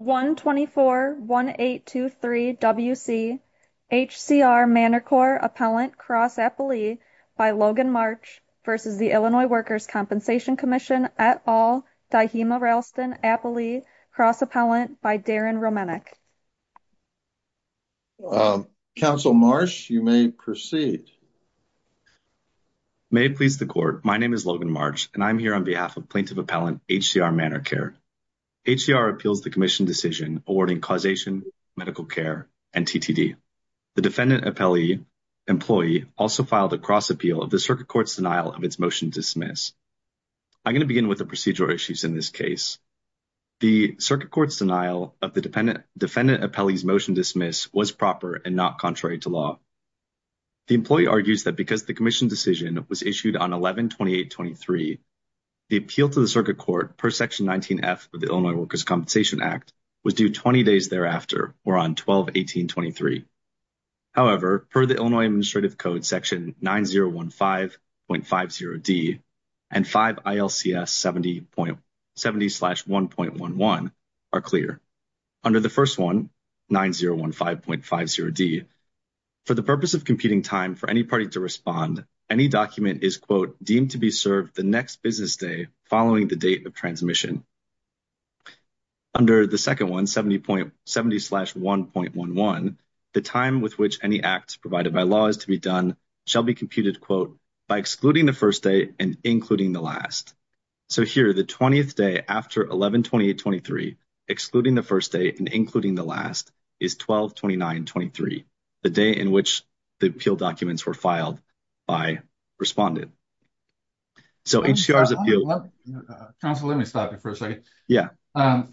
1-24-1823-WC HCR Manor Corps Appellant Cross Appellee by Logan March v. Illinois Workers' Compensation Comm'n et al. Dahima Ralston Appellee Cross Appellant by Darren Romanek. Counsel Marsh, you may proceed. May it please the Court, my name is Logan March and I am here on behalf of Plaintiff Appellant HCR Manor Care. HCR appeals the Commission decision awarding causation, medical care, and TTD. The Defendant Appellee employee also filed a cross appeal of the Circuit Court's denial of its motion to dismiss. I'm going to begin with the procedural issues in this case. The Circuit Court's denial of the Defendant Appellee's motion to dismiss was proper and not contrary to law. The employee argues that because the Commission decision was issued on 11-28-23, the appeal to the Circuit Court per Section 19F of the Illinois Workers' Compensation Act was due 20 days thereafter or on 12-18-23. However, per the Illinois Administrative Code Section 9015.50d and 5 ILCS 70.70-1.11 are clear. Under the first one, 9015.50d, for the purpose of computing time for any party to respond, any document is, quote, deemed to be served the next business day following the date of transmission. Under the second one, 70.70-1.11, the time with which any act provided by law is to be done shall be computed, quote, by excluding the first day and including the last. So here, the 20th day after 11-28-23, excluding the first day and including the last, is 12-29-23, the day in which the appeal documents were filed by respondent. So HCR's appeal... Counsel, let me stop you for a second.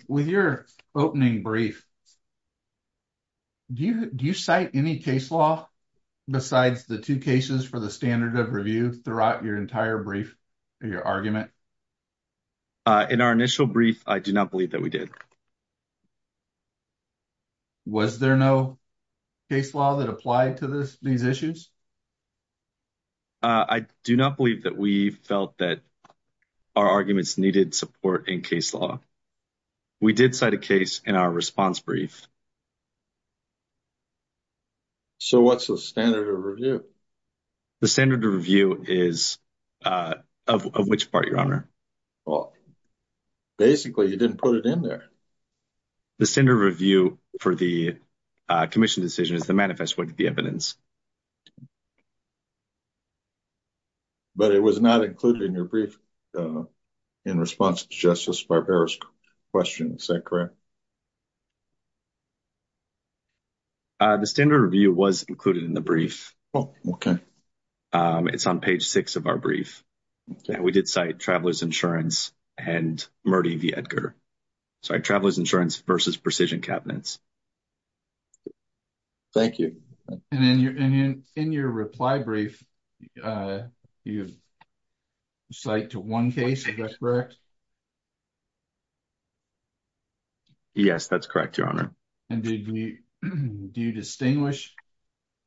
With your opening brief, do you cite any case law besides the two cases for the standard of review throughout your entire brief or your argument? In our initial brief, I do not believe that we did. Was there no case law that applied to these issues? I do not believe that we felt that our arguments needed support in case law. We did cite a case in our response brief. So what's the standard of review? The standard of review is... of which part, Your Honor? Well, basically, you didn't put it in there. The standard of review for the commission decision is the manifest with the evidence. But it was not included in your brief in response to Justice Barbera's question. Is that correct? The standard of review was included in the brief. Oh, okay. It's on page 6 of our brief. We did cite Traveler's Insurance and Murty v. Edgar. Sorry, Traveler's Insurance versus Precision Cabinets. Thank you. And in your reply brief, you cite to one case. Is that correct? Yes, that's correct, Your Honor. And did we... do you distinguish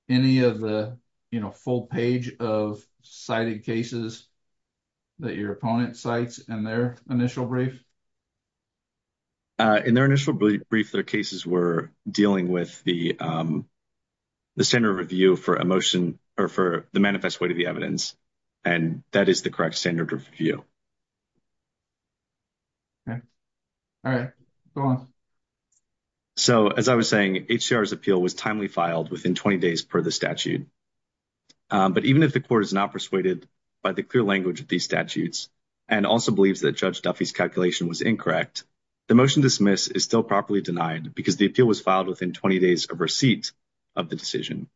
any of the, you know, full page of cited cases that your opponent cites in their initial brief? In their initial brief, their cases were dealing with the standard of review for a motion... or for the manifest with the evidence. And that is the correct standard of review. Okay. All right. Go on. So as I was saying, HCR's appeal was timely filed within 20 days per the statute. But even if the court is not persuaded by the clear language of these statutes and also believes that Judge Duffy's calculation was incorrect, the motion dismiss is still properly denied because the appeal was filed within 20 days of receipt of the decision.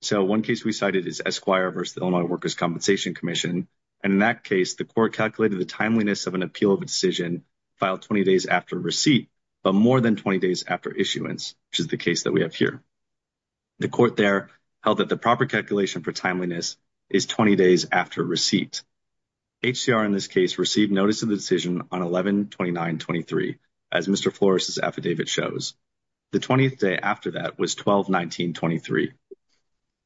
So one case we cited is Esquire v. Illinois Workers' Compensation Commission. And in that case, the court calculated the timeliness of an appeal of a decision filed 20 days after receipt, but more than 20 days after issuance, which is the case that we have here. The court there held that the proper calculation for timeliness is 20 days after receipt. HCR, in this case, received notice of the decision on 11-29-23, as Mr. Flores's affidavit shows. The 20th day after that was 12-19-23.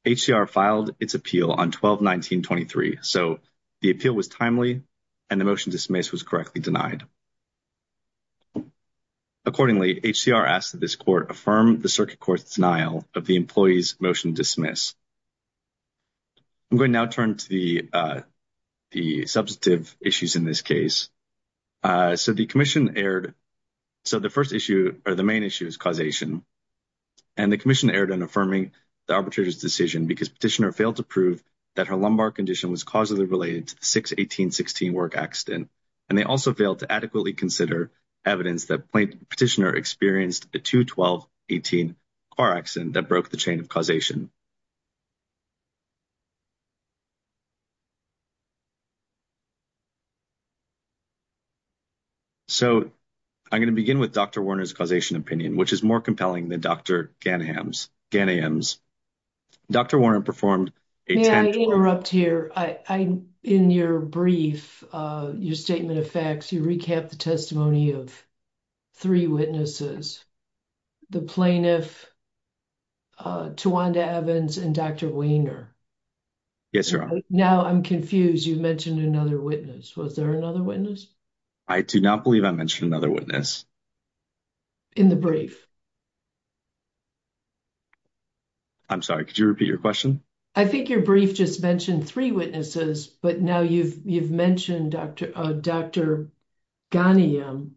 HCR filed its appeal on 12-19-23. So the appeal was timely and the motion dismiss was correctly denied. Accordingly, HCR asked that this court affirm the circuit court's denial of the employee's motion dismiss. I'm going to now turn to the substantive issues in this case. So the commission erred. So the first issue or the main issue is causation. And the commission erred in affirming the arbitrator's decision because petitioner proved that her lumbar condition was causally related to the 6-18-16 work accident. And they also failed to adequately consider evidence that petitioner experienced a 2-12-18 car accident that broke the chain of causation. So I'm going to begin with Dr. Warner's causation opinion, which is more compelling than Dr. Ghanayam's. Dr. Warren performed a tam— May I interrupt here? In your brief, your statement of facts, you recapped the testimony of three witnesses, the plaintiff, Tawanda Evans, and Dr. Weiner. Yes, your honor. Now I'm confused. You mentioned another witness. Was there another witness? I do not believe I mentioned another witness. In the brief. I'm sorry, could you repeat your question? I think your brief just mentioned three witnesses, but now you've mentioned Dr. Ghanayam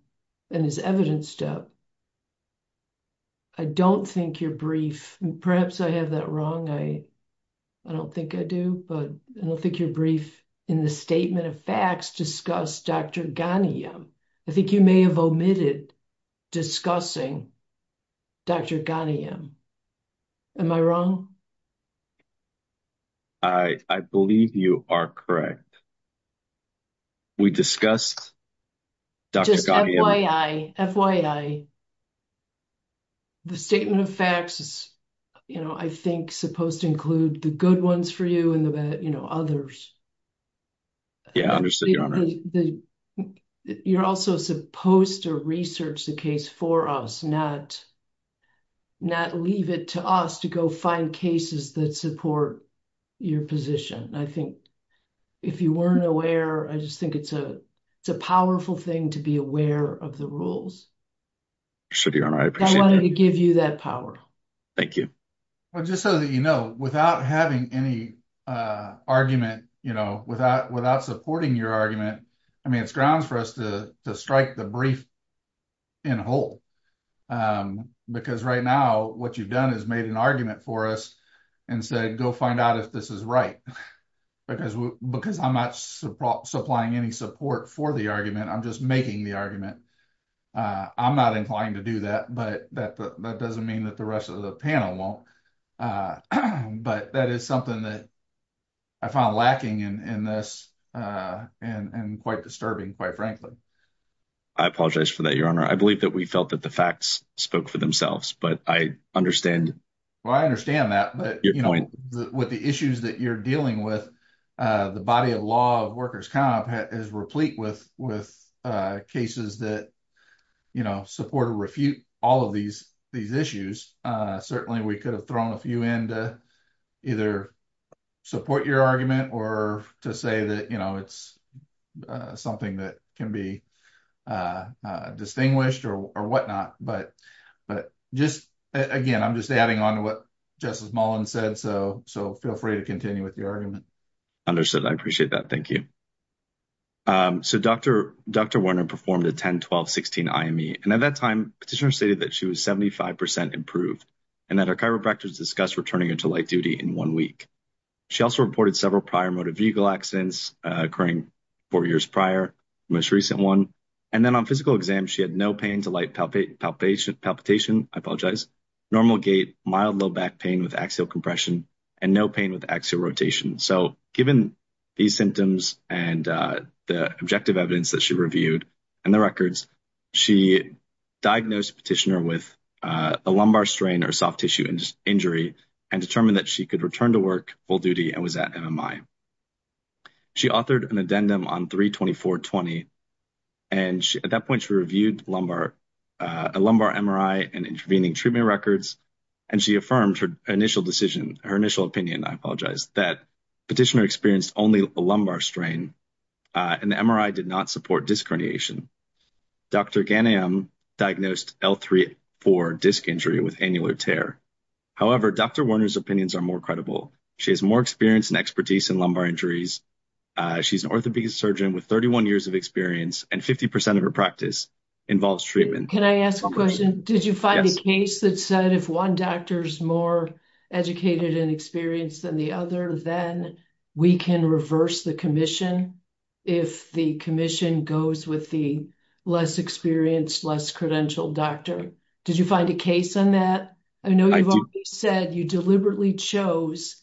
and his evidence step. I don't think your brief—perhaps I have that wrong. I don't think I do, but I don't think your brief in the statement of facts discussed Dr. Ghanayam. I think you may have omitted discussing Dr. Ghanayam. Am I wrong? I believe you are correct. We discussed Dr. Ghanayam— Just FYI, FYI, the statement of facts is, you know, I think supposed to include the good ones for you and the bad, you know, others. Yeah, I understand, your honor. The—you're also supposed to research the case for us, not leave it to us to go find cases that support your position. I think if you weren't aware, I just think it's a powerful thing to be aware of the rules. Sure, your honor, I appreciate that. I wanted to give you that power. Thank you. Just so that you know, without having any argument, you know, without supporting your argument, I mean, it's grounds for us to strike the brief in whole. Because right now, what you've done is made an argument for us and said, go find out if this is right. Because I'm not supplying any support for the argument, I'm just making the argument. I'm not inclined to do that, but that doesn't mean that the rest of the panel won't. But that is something that I found lacking in this and quite disturbing, quite frankly. I apologize for that, your honor. I believe that we felt that the facts spoke for themselves, but I understand— Well, I understand that, but, you know, with the issues that you're dealing with, the body of law of workers' comp is replete with cases that, you know, support or refute all of these issues. Certainly, we could have thrown a few in to either support your argument or to say that, you know, it's something that can be distinguished or whatnot. But just, again, I'm just adding on to what Justice Mullin said, so feel free to continue with your argument. Understood. I appreciate that. Thank you. So, Dr. Werner performed a 10-12-16 IME, and at that time, petitioners stated that she was 75% improved and that her chiropractors discussed returning her to light duty in one week. She also reported several prior motor vehicle accidents occurring four years prior, the most recent one. And then on physical exam, she had no pain to light palpation, normal gait, mild low back pain with axial compression, and no pain with axial rotation. So, given these symptoms and the objective evidence that she reviewed and the records, she diagnosed the petitioner with a lumbar strain or soft tissue injury and determined that she could return to work full duty and was at MMI. She authored an addendum on 3-24-20, and at that point, she reviewed a lumbar MRI and intervening treatment records, and she affirmed her initial decision, her initial opinion, I apologize, that petitioner experienced only a lumbar strain, and the MRI did not support disc herniation. Dr. Ghanayam diagnosed L3-4 disc injury with annular tear. However, Dr. Werner's opinions are more credible. She has more experience and expertise in lumbar injuries. She's an orthopedic surgeon with 31 years of experience, and 50% of her practice involves treatment. Can I ask a question? Did you find a case that said if one doctor's more educated and experienced than the other, then we can reverse the commission if the commission goes with the less experienced, less credentialed doctor? Did you find a case on that? I know you've said you deliberately chose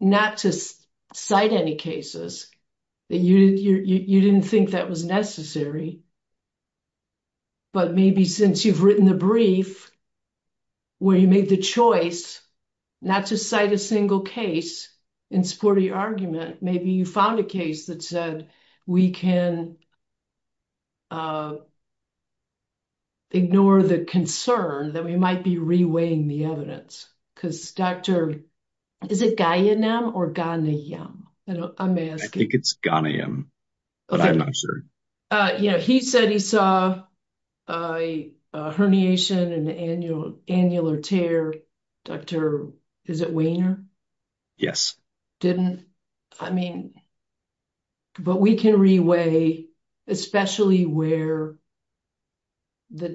not to cite any cases. You didn't think that was necessary, but maybe since you've written the brief where you made the choice not to cite a single case in support of your argument, maybe you found a case that said we can ignore the concern that we might be reweighing the evidence, because, Doctor, is it Ghanayam or Ghanayam? I may ask you. I think it's Ghanayam, but I'm not sure. He said he saw a herniation and an annular tear. Doctor, is it Weiner? Yes. Didn't? I mean, but we can reweigh, especially where the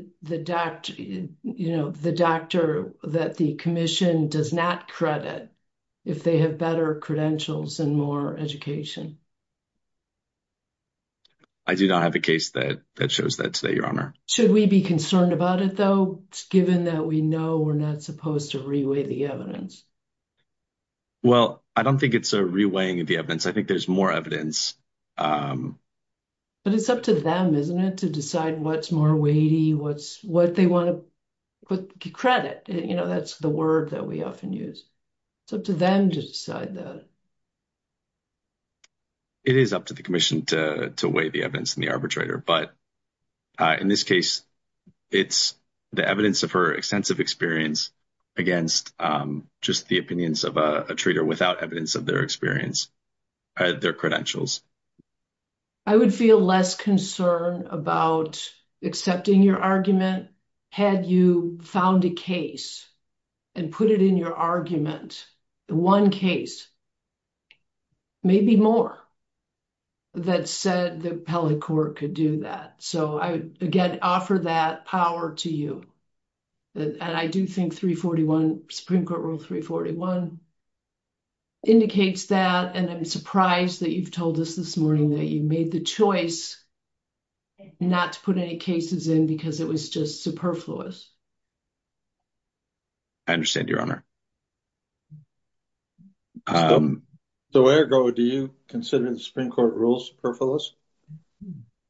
doctor that the commission does not credit if they have better credentials and more education. I do not have a case that shows that today, Your Honor. Should we be concerned about it, though, given that we know we're not supposed to reweigh the evidence? Well, I don't think it's a reweighing of the evidence. I think there's more evidence. But it's up to them, isn't it, to decide what's more weighty, what they want to credit. That's the word that we often use. It's up to them to decide that. It is up to the commission to weigh the evidence in the arbitrator. But in this case, it's the evidence of her extensive experience against just the opinions of a traitor without evidence of their experience, their credentials. I would feel less concerned about accepting your argument had you found a case and put it in your case. Maybe more that said the appellate court could do that. So I would, again, offer that power to you. And I do think 341, Supreme Court Rule 341, indicates that. And I'm surprised that you've told us this morning that you made the choice not to put any cases in because it was just superfluous. I understand, Your Honor. So, Ergo, do you consider the Supreme Court rules superfluous?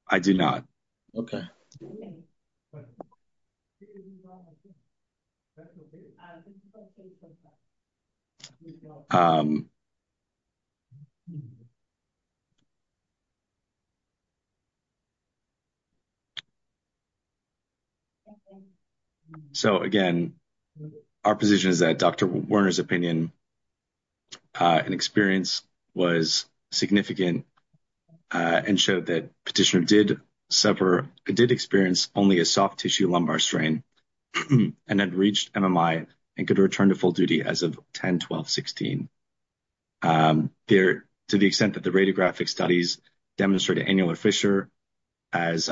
I do not. Okay. So, again, our position is that Dr. Werner's opinion and experience was significant and showed that Petitioner did suffer, did experience only a soft tissue lumbar strain and had reached MMI and could return to full duty as of 10-12-16. To the extent that the radiographic studies demonstrated annular fissure as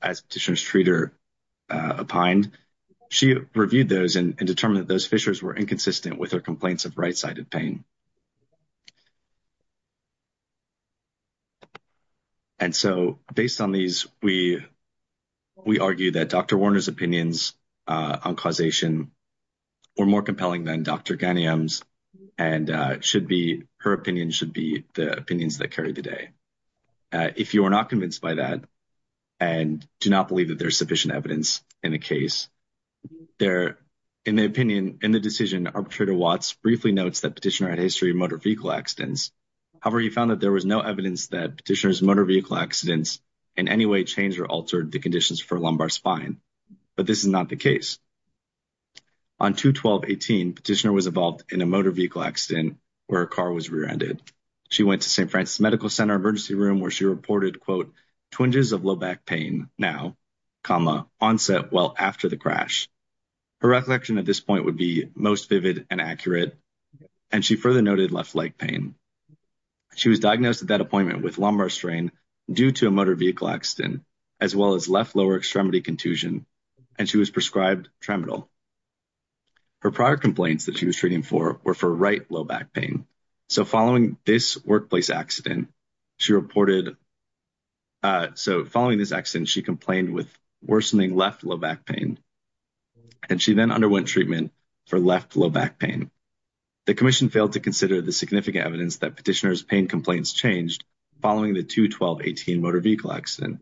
Petitioner's treater opined, she reviewed those and determined that those fissures were inconsistent with her complaints of right-sided pain. And so based on these, we argue that Dr. Werner's opinions on causation were more compelling than Dr. Ghanayam's and her opinion should be the opinions that carry the day. If you are not convinced by that and do not believe that there's sufficient evidence in the case, in the decision, Arbitrator Watts briefly notes that Petitioner had a history of motor vehicle accidents. However, he found that there was no evidence that Petitioner's motor vehicle accidents in any way changed or altered the conditions for lumbar spine. But this is not the case. On 2-12-18, Petitioner was involved in a motor vehicle accident where her car was rear-ended. She went to St. Francis Medical Center emergency room where she reported, quote, twinges of low back pain now, comma, onset well after the crash. Her reflection at this point would be most vivid and accurate and she further noted left leg pain. She was diagnosed at that appointment with lumbar strain due to a motor vehicle accident as well as left lower extremity contusion and she was prescribed Tramadol. Her prior complaints that she was treating for were for right low back pain. So following this workplace accident, she reported, so following this accident, she complained with worsening left low back pain and she then underwent treatment for left low back pain. The commission failed to consider the significant evidence that Petitioner's pain complaints changed following the 2-12-18 motor vehicle accident.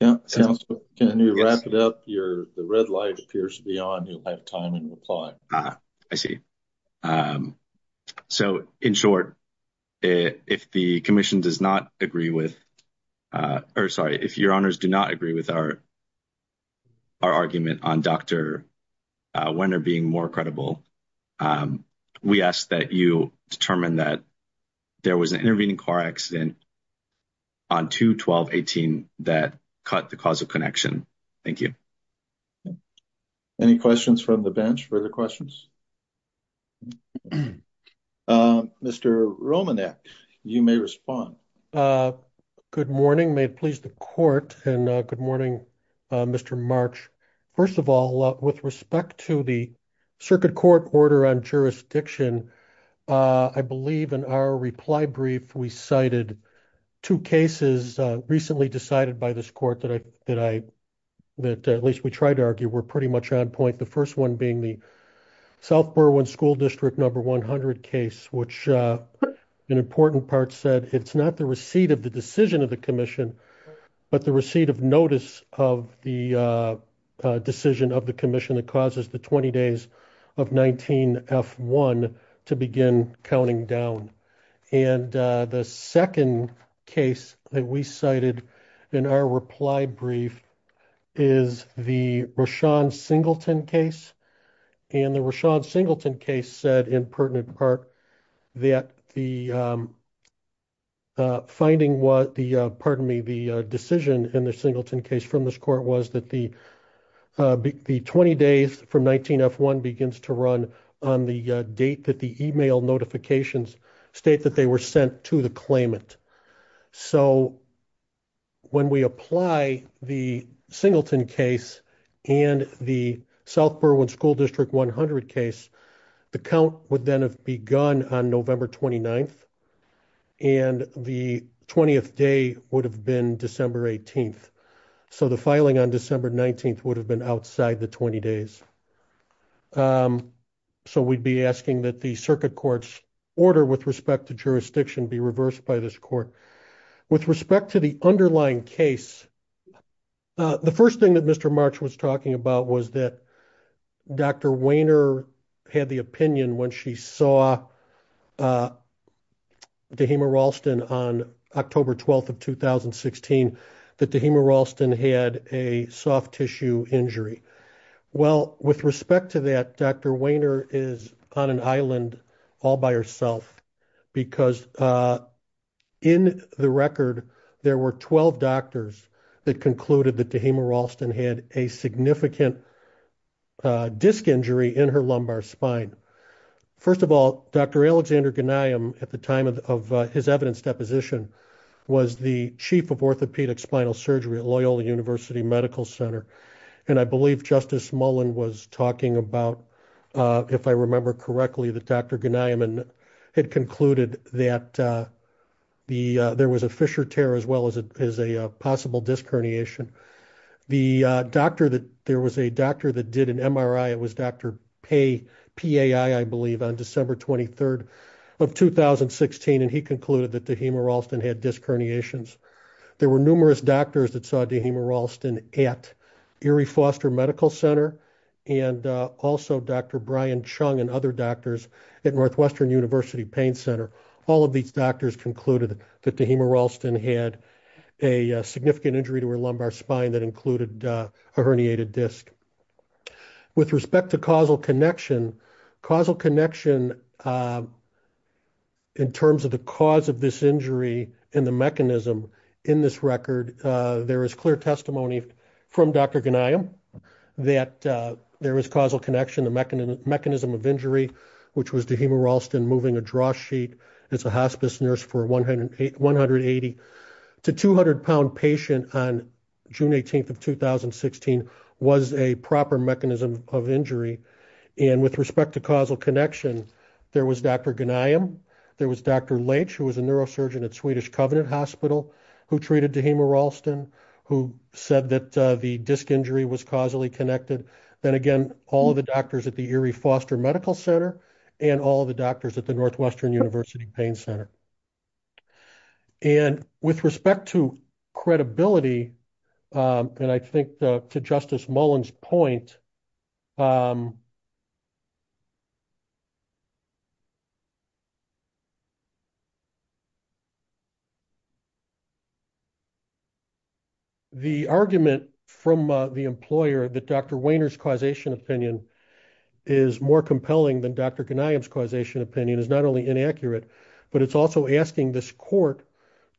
Yeah, can you wrap it up? The red light appears to be on. You'll have time in reply. I see. So in short, if the commission does not agree with, or sorry, if your honors do not agree with our argument on Dr. Wenner being more credible, we ask that you determine that there was an intervening car accident on 2-12-18 that cut the cause of connection. Thank you. Any questions from the bench? Further questions? Mr. Romanek, you may respond. Good morning. May it please the court and good morning, Mr. March. First of all, with respect to the circuit court order on jurisdiction, uh, I believe in our reply brief, we cited two cases, uh, recently decided by this court that I, that I, that at least we tried to argue, we're pretty much on point. The first one being the South Berwyn school district number 100 case, which, uh, an important part said it's not the receipt of the decision of the commission, but the receipt of notice of the, uh, uh, decision of the commission that causes the 20 days of 19 F1 to begin counting down. And, uh, the second case that we cited in our reply brief is the Rashad Singleton case. And the Rashad Singleton case said in pertinent part that the, um, uh, finding what the, uh, pardon me, the decision in the Singleton case from this court was that the, uh, the 20 days from 19 F1 begins to run on the date that the email notifications state that they were sent to the claimant. So when we apply the Singleton case and the South Berwyn school district 100 case, the count would then have begun on November 29th and the 20th day would have been December 18th. So the filing on December 19th would have been outside the 20 days. Um, so we'd be asking that the circuit court's order with respect to jurisdiction be reversed by this court with respect to the underlying case. Uh, the first thing that Mr. March was talking about was that Dr. Weiner had the opinion when she saw, uh, Dehema Ralston on October 12th of 2016, that Dehema Ralston had a soft tissue injury. Well, with respect to that, Dr. Weiner is on an island all by herself because, uh, in the record, there were 12 doctors that concluded that Dehema Ralston had a significant, uh, disc injury in her lumbar spine. First of all, Dr. Alexander Ganium at the time of his evidence deposition was the chief of orthopedic spinal surgery at Loyola University Medical Center. And I believe Justice Mullen was talking about, uh, if I remember correctly, that Dr. Ganium had concluded that, uh, the, uh, there was a Fisher tear as well as a, as a doctor that there was a doctor that did an MRI. It was Dr. Pay PAI, I believe on December 23rd of 2016. And he concluded that Dehema Ralston had disc herniations. There were numerous doctors that saw Dehema Ralston at Erie Foster Medical Center and, uh, also Dr. Brian Chung and other doctors at Northwestern University Pain Center. All of these doctors concluded that Dehema Ralston had a significant injury to her lumbar spine that included a herniated disc with respect to causal connection, causal connection, uh, in terms of the cause of this injury and the mechanism in this record, uh, there is clear testimony from Dr. Ganium that, uh, there was causal connection, the mechanism, mechanism of injury, which was Dehema Ralston moving a draw sheet as a hospice nurse for 108, 180 to 200 pound patient on June 18th of 2016 was a proper mechanism of injury. And with respect to causal connection, there was Dr. Ganium, there was Dr. Leitch, who was a neurosurgeon at Swedish Covenant Hospital, who treated Dehema Ralston, who said that, uh, the disc injury was causally connected. Then again, all of the doctors at the Erie Foster Medical Center and all the doctors at the Northwestern University Pain Center. And with respect to credibility, um, and I think, uh, to Justice Mullen's point, um, um, the argument from, uh, the employer that Dr. Weiner's causation opinion is more compelling than Dr. Ganium's causation opinion is not only inaccurate, but it's also asking this court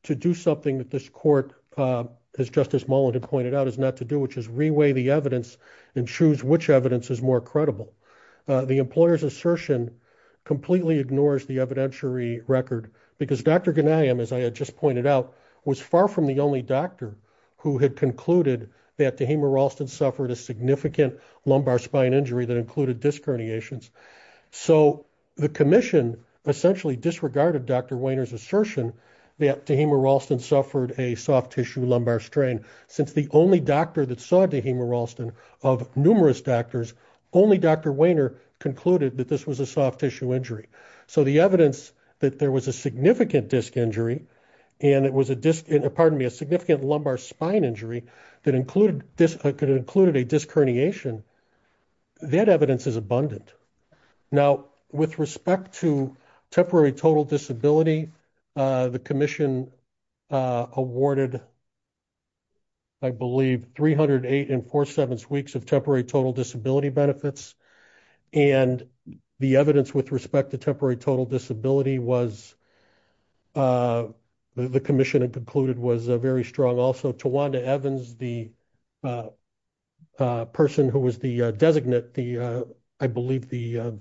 to do something that this court, uh, as Justice Mullen had pointed out is not to do, which is reweigh the evidence and choose which evidence is more credible. Uh, the employer's assertion completely ignores the evidentiary record because Dr. Ganium, as I had just pointed out, was far from the only doctor who had concluded that Dehema Ralston suffered a significant lumbar spine injury that included disc herniations. So the commission essentially disregarded Dr. Weiner's assertion that Dehema Ralston suffered a soft tissue lumbar strain. Since the only doctor that saw Dehema Ralston of numerous doctors, only Dr. Weiner concluded that this was a soft tissue injury. So the evidence that there was a significant disc injury and it was a disc, pardon me, a significant lumbar spine injury that included disc herniation, that evidence is abundant. Now, with respect to temporary total disability, uh, the commission, uh, awarded, I believe, 308 and four-sevenths weeks of temporary total disability benefits. And the evidence with respect to temporary total disability was, uh, the commission had concluded was a very strong. Also Tawanda Evans, the, uh, uh, person who was the, uh, designate, the, uh, I believe the, uh,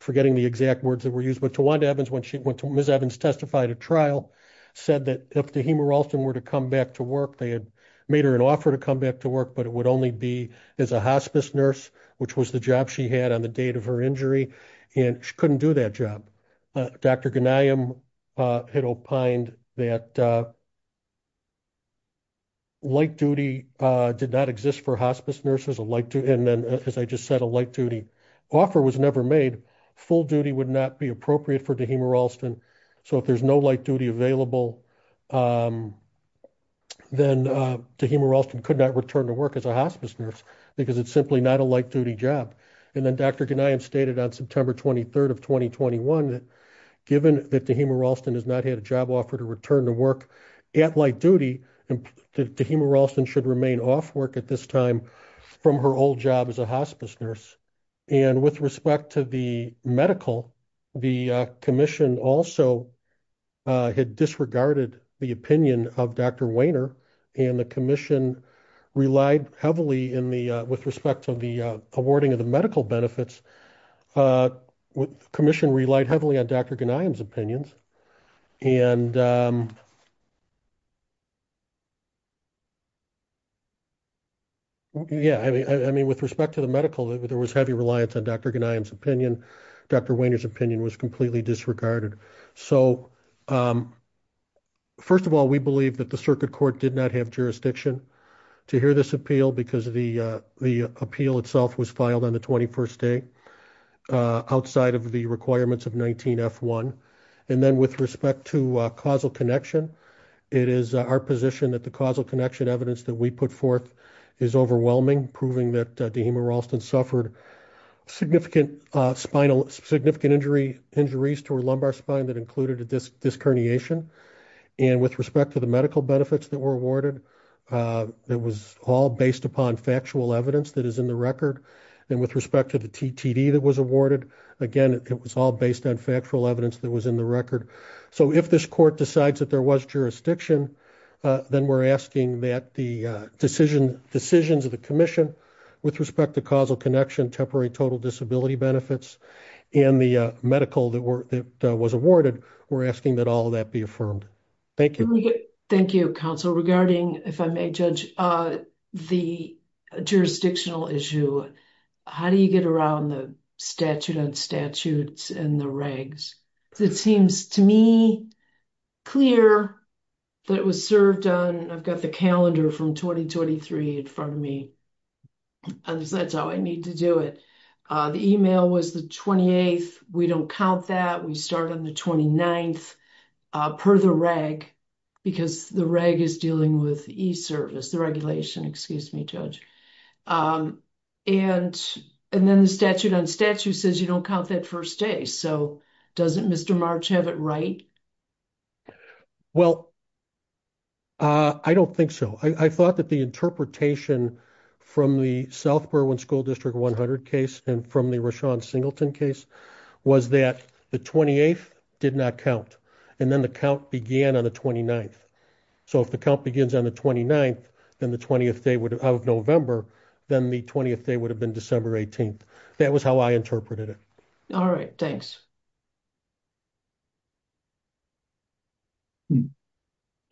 forgetting the exact words that were used, but Tawanda Evans, when she went to Ms. Evans testified at trial said that if Dehema Ralston were to come back to work, they had made her an offer to come back to work, but it would only be as a hospice nurse, which was the job she had on the date of her injury. And she couldn't do that job. Dr. Ghanayem, uh, had opined that, uh, light duty, uh, did not exist for hospice nurses, a light duty. And then, as I just said, a light duty offer was never made. Full duty would not be appropriate for Dehema Ralston. So if there's no light duty available, um, then, uh, Dehema Ralston could not return to work as a hospice nurse because it's simply not a light duty job. And then Dr. Ghanayem stated on September 23rd of 2021, given that Dehema Ralston has not had a job offer to return to work at light duty, and Dehema Ralston should remain off work at this time from her old job as a hospice nurse. And with respect to the medical, the, uh, commission also, uh, had disregarded the opinion of Dr. Wainer and the commission relied heavily in the, uh, with respect to the, uh, awarding of the medical benefits, uh, commission relied heavily on Dr. Ghanayem's opinions. And, um, yeah, I mean, I mean, with respect to the medical, there was heavy reliance on Dr. Ghanayem's opinion. Dr. Wainer's opinion was completely disregarded. So, um, first of all, we believe that the circuit court did not have jurisdiction to hear this appeal because the, uh, the appeal itself was filed on the 21st day, uh, outside of the requirements of 19F1. And then with respect to, uh, causal connection, it is our position that the causal connection evidence that we put forth is overwhelming, proving that Dehema Ralston suffered significant, uh, spinal, significant injury, injuries to her lumbar spine that included a disc herniation. And with respect to the medical and with respect to the TTD that was awarded, again, it was all based on factual evidence that was in the record. So if this court decides that there was jurisdiction, uh, then we're asking that the, uh, decision decisions of the commission with respect to causal connection, temporary total disability benefits, and the, uh, medical that were, that, uh, was awarded, we're asking that all of that be affirmed. Thank you. Thank you, counsel. Regarding, if I may judge, uh, the jurisdictional issue, how do you get around the statute on statutes and the regs? It seems to me clear that it was served on, I've got the calendar from 2023 in front of me, and that's how I need to do it. Uh, the email was the 28th. We don't count that. We start on the 29th, uh, per the reg, because the reg is dealing with e-service, the regulation, excuse me, judge. Um, and, and then the statute on statute says you don't count that first day. So doesn't Mr. March have it right? Well, uh, I don't think so. I thought that the interpretation from the South Berwyn School District 100 case and from the Rashawn Singleton case was that the 28th did not count. And then the count began on the 29th. So if the count begins on the 29th, then the 20th day would have November. Then the 20th day would have been December 18th. That was how I interpreted it. All right. Thanks.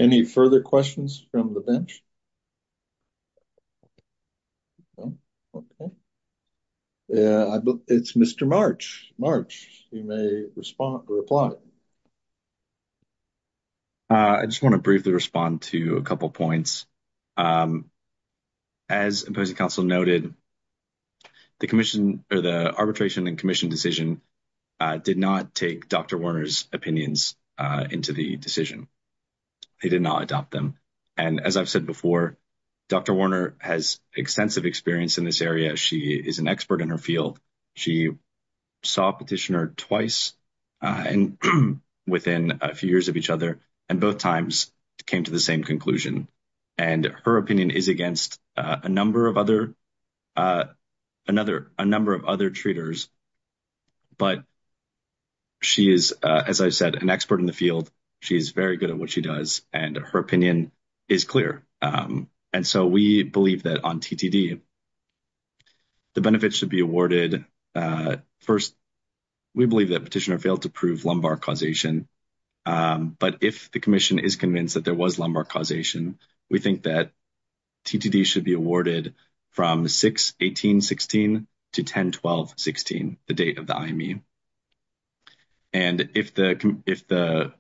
Any further questions from the bench? Okay. Yeah, I believe it's Mr. March. March, you may respond or reply. Uh, I just want to briefly respond to a couple of points. Um, as opposing council noted, the commission or the arbitration and commission decision, uh, did not take Dr. Werner's opinions, uh, into the decision. They did not adopt them. And as I've said before, Dr. Werner has extensive experience in this area. She is an expert in her field. She saw petitioner twice, uh, and within a few years of each other, and both times came to the same conclusion. And her opinion is a number of other, uh, another, a number of other treaters, but she is, uh, as I said, an expert in the field. She's very good at what she does and her opinion is clear. Um, and so we believe that on TTD, the benefits should be awarded. Uh, first, we believe that petitioner failed to prove lumbar causation. Um, but if the commission is convinced that there was causation, we think that TTD should be awarded from 6-18-16 to 10-12-16, the date of the IME. And if the, if the,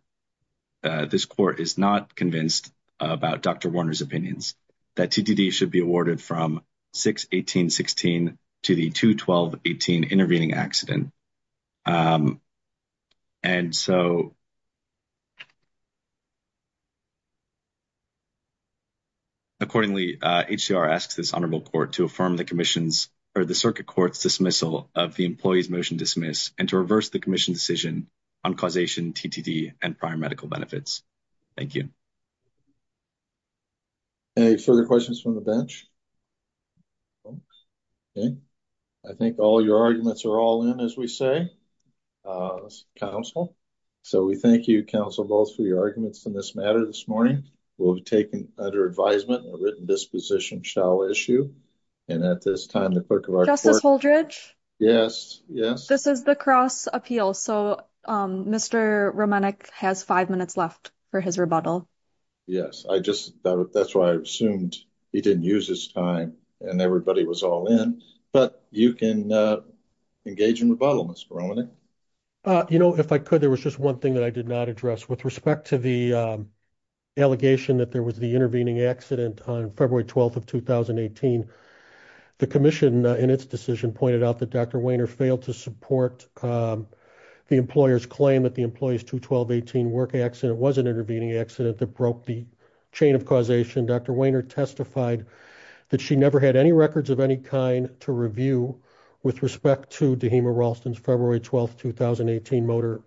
uh, this court is not convinced about Dr. Werner's opinions, that TTD should be awarded from 6-18-16 to the 2-12-18 intervening accident. Um, and so we believe that the petitioner should be awarded from 6-18-16 to the 2-12-18 intervening accident. Accordingly, uh, HCR asks this Honorable Court to affirm the commission's, or the circuit court's dismissal of the employee's motion dismiss and to reverse the commission's decision on causation, TTD, and prior medical benefits. Thank you. Okay, further questions from the bench? Okay. I think all your arguments are all in, as we say, uh, council. So we thank you, both, for your arguments in this matter this morning. We'll be taking, under advisement, a written disposition shall issue. And at this time, the clerk of our court... Justice Holdredge? Yes, yes. This is the cross appeal. So, um, Mr. Romanek has five minutes left for his rebuttal. Yes, I just, that's why I assumed he didn't use his time and everybody was all in. But you can, uh, engage in rebuttal, Mr. Romanek. Uh, you know, if I could, there was just one thing that I did not address with respect to the, um, allegation that there was the intervening accident on February 12th of 2018. The commission, in its decision, pointed out that Dr. Wehner failed to support, um, the employer's claim that the employee's 2-12-18 work accident was an intervening accident that broke the chain of causation. Dr. Wehner testified that she never had any records of any kind to review with respect to Dehema Ralston's February 12th, 2018 motor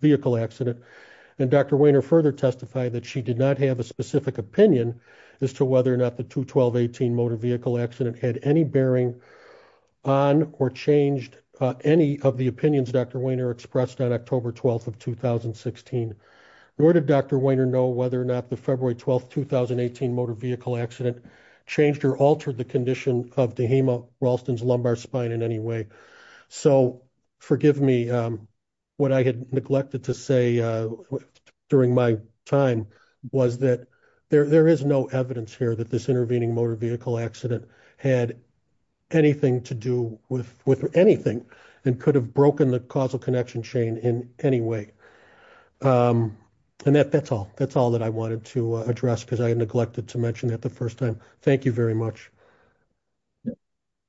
vehicle accident. And Dr. Wehner further testified that she did not have a specific opinion as to whether or not the 2-12-18 motor vehicle accident had any bearing on or changed any of the opinions Dr. Wehner expressed on October 12th of 2016. Nor did Dr. Wehner know whether or not the February 12th, 2018 motor vehicle accident changed or altered the condition of Dehema Ralston's 2-12-18 motor vehicle accident. And I think that's all that I wanted to address because I neglected to mention that the first time. Thank you very much. Yeah,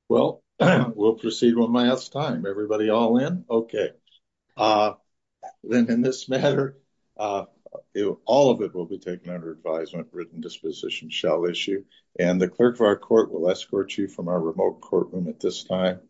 well, we'll proceed one last time. Everybody all in? Okay, uh, then in this matter, uh, all of it will be taken under advisement written disposition shall issue and the clerk of our court will escort you from our remote courtroom at this time.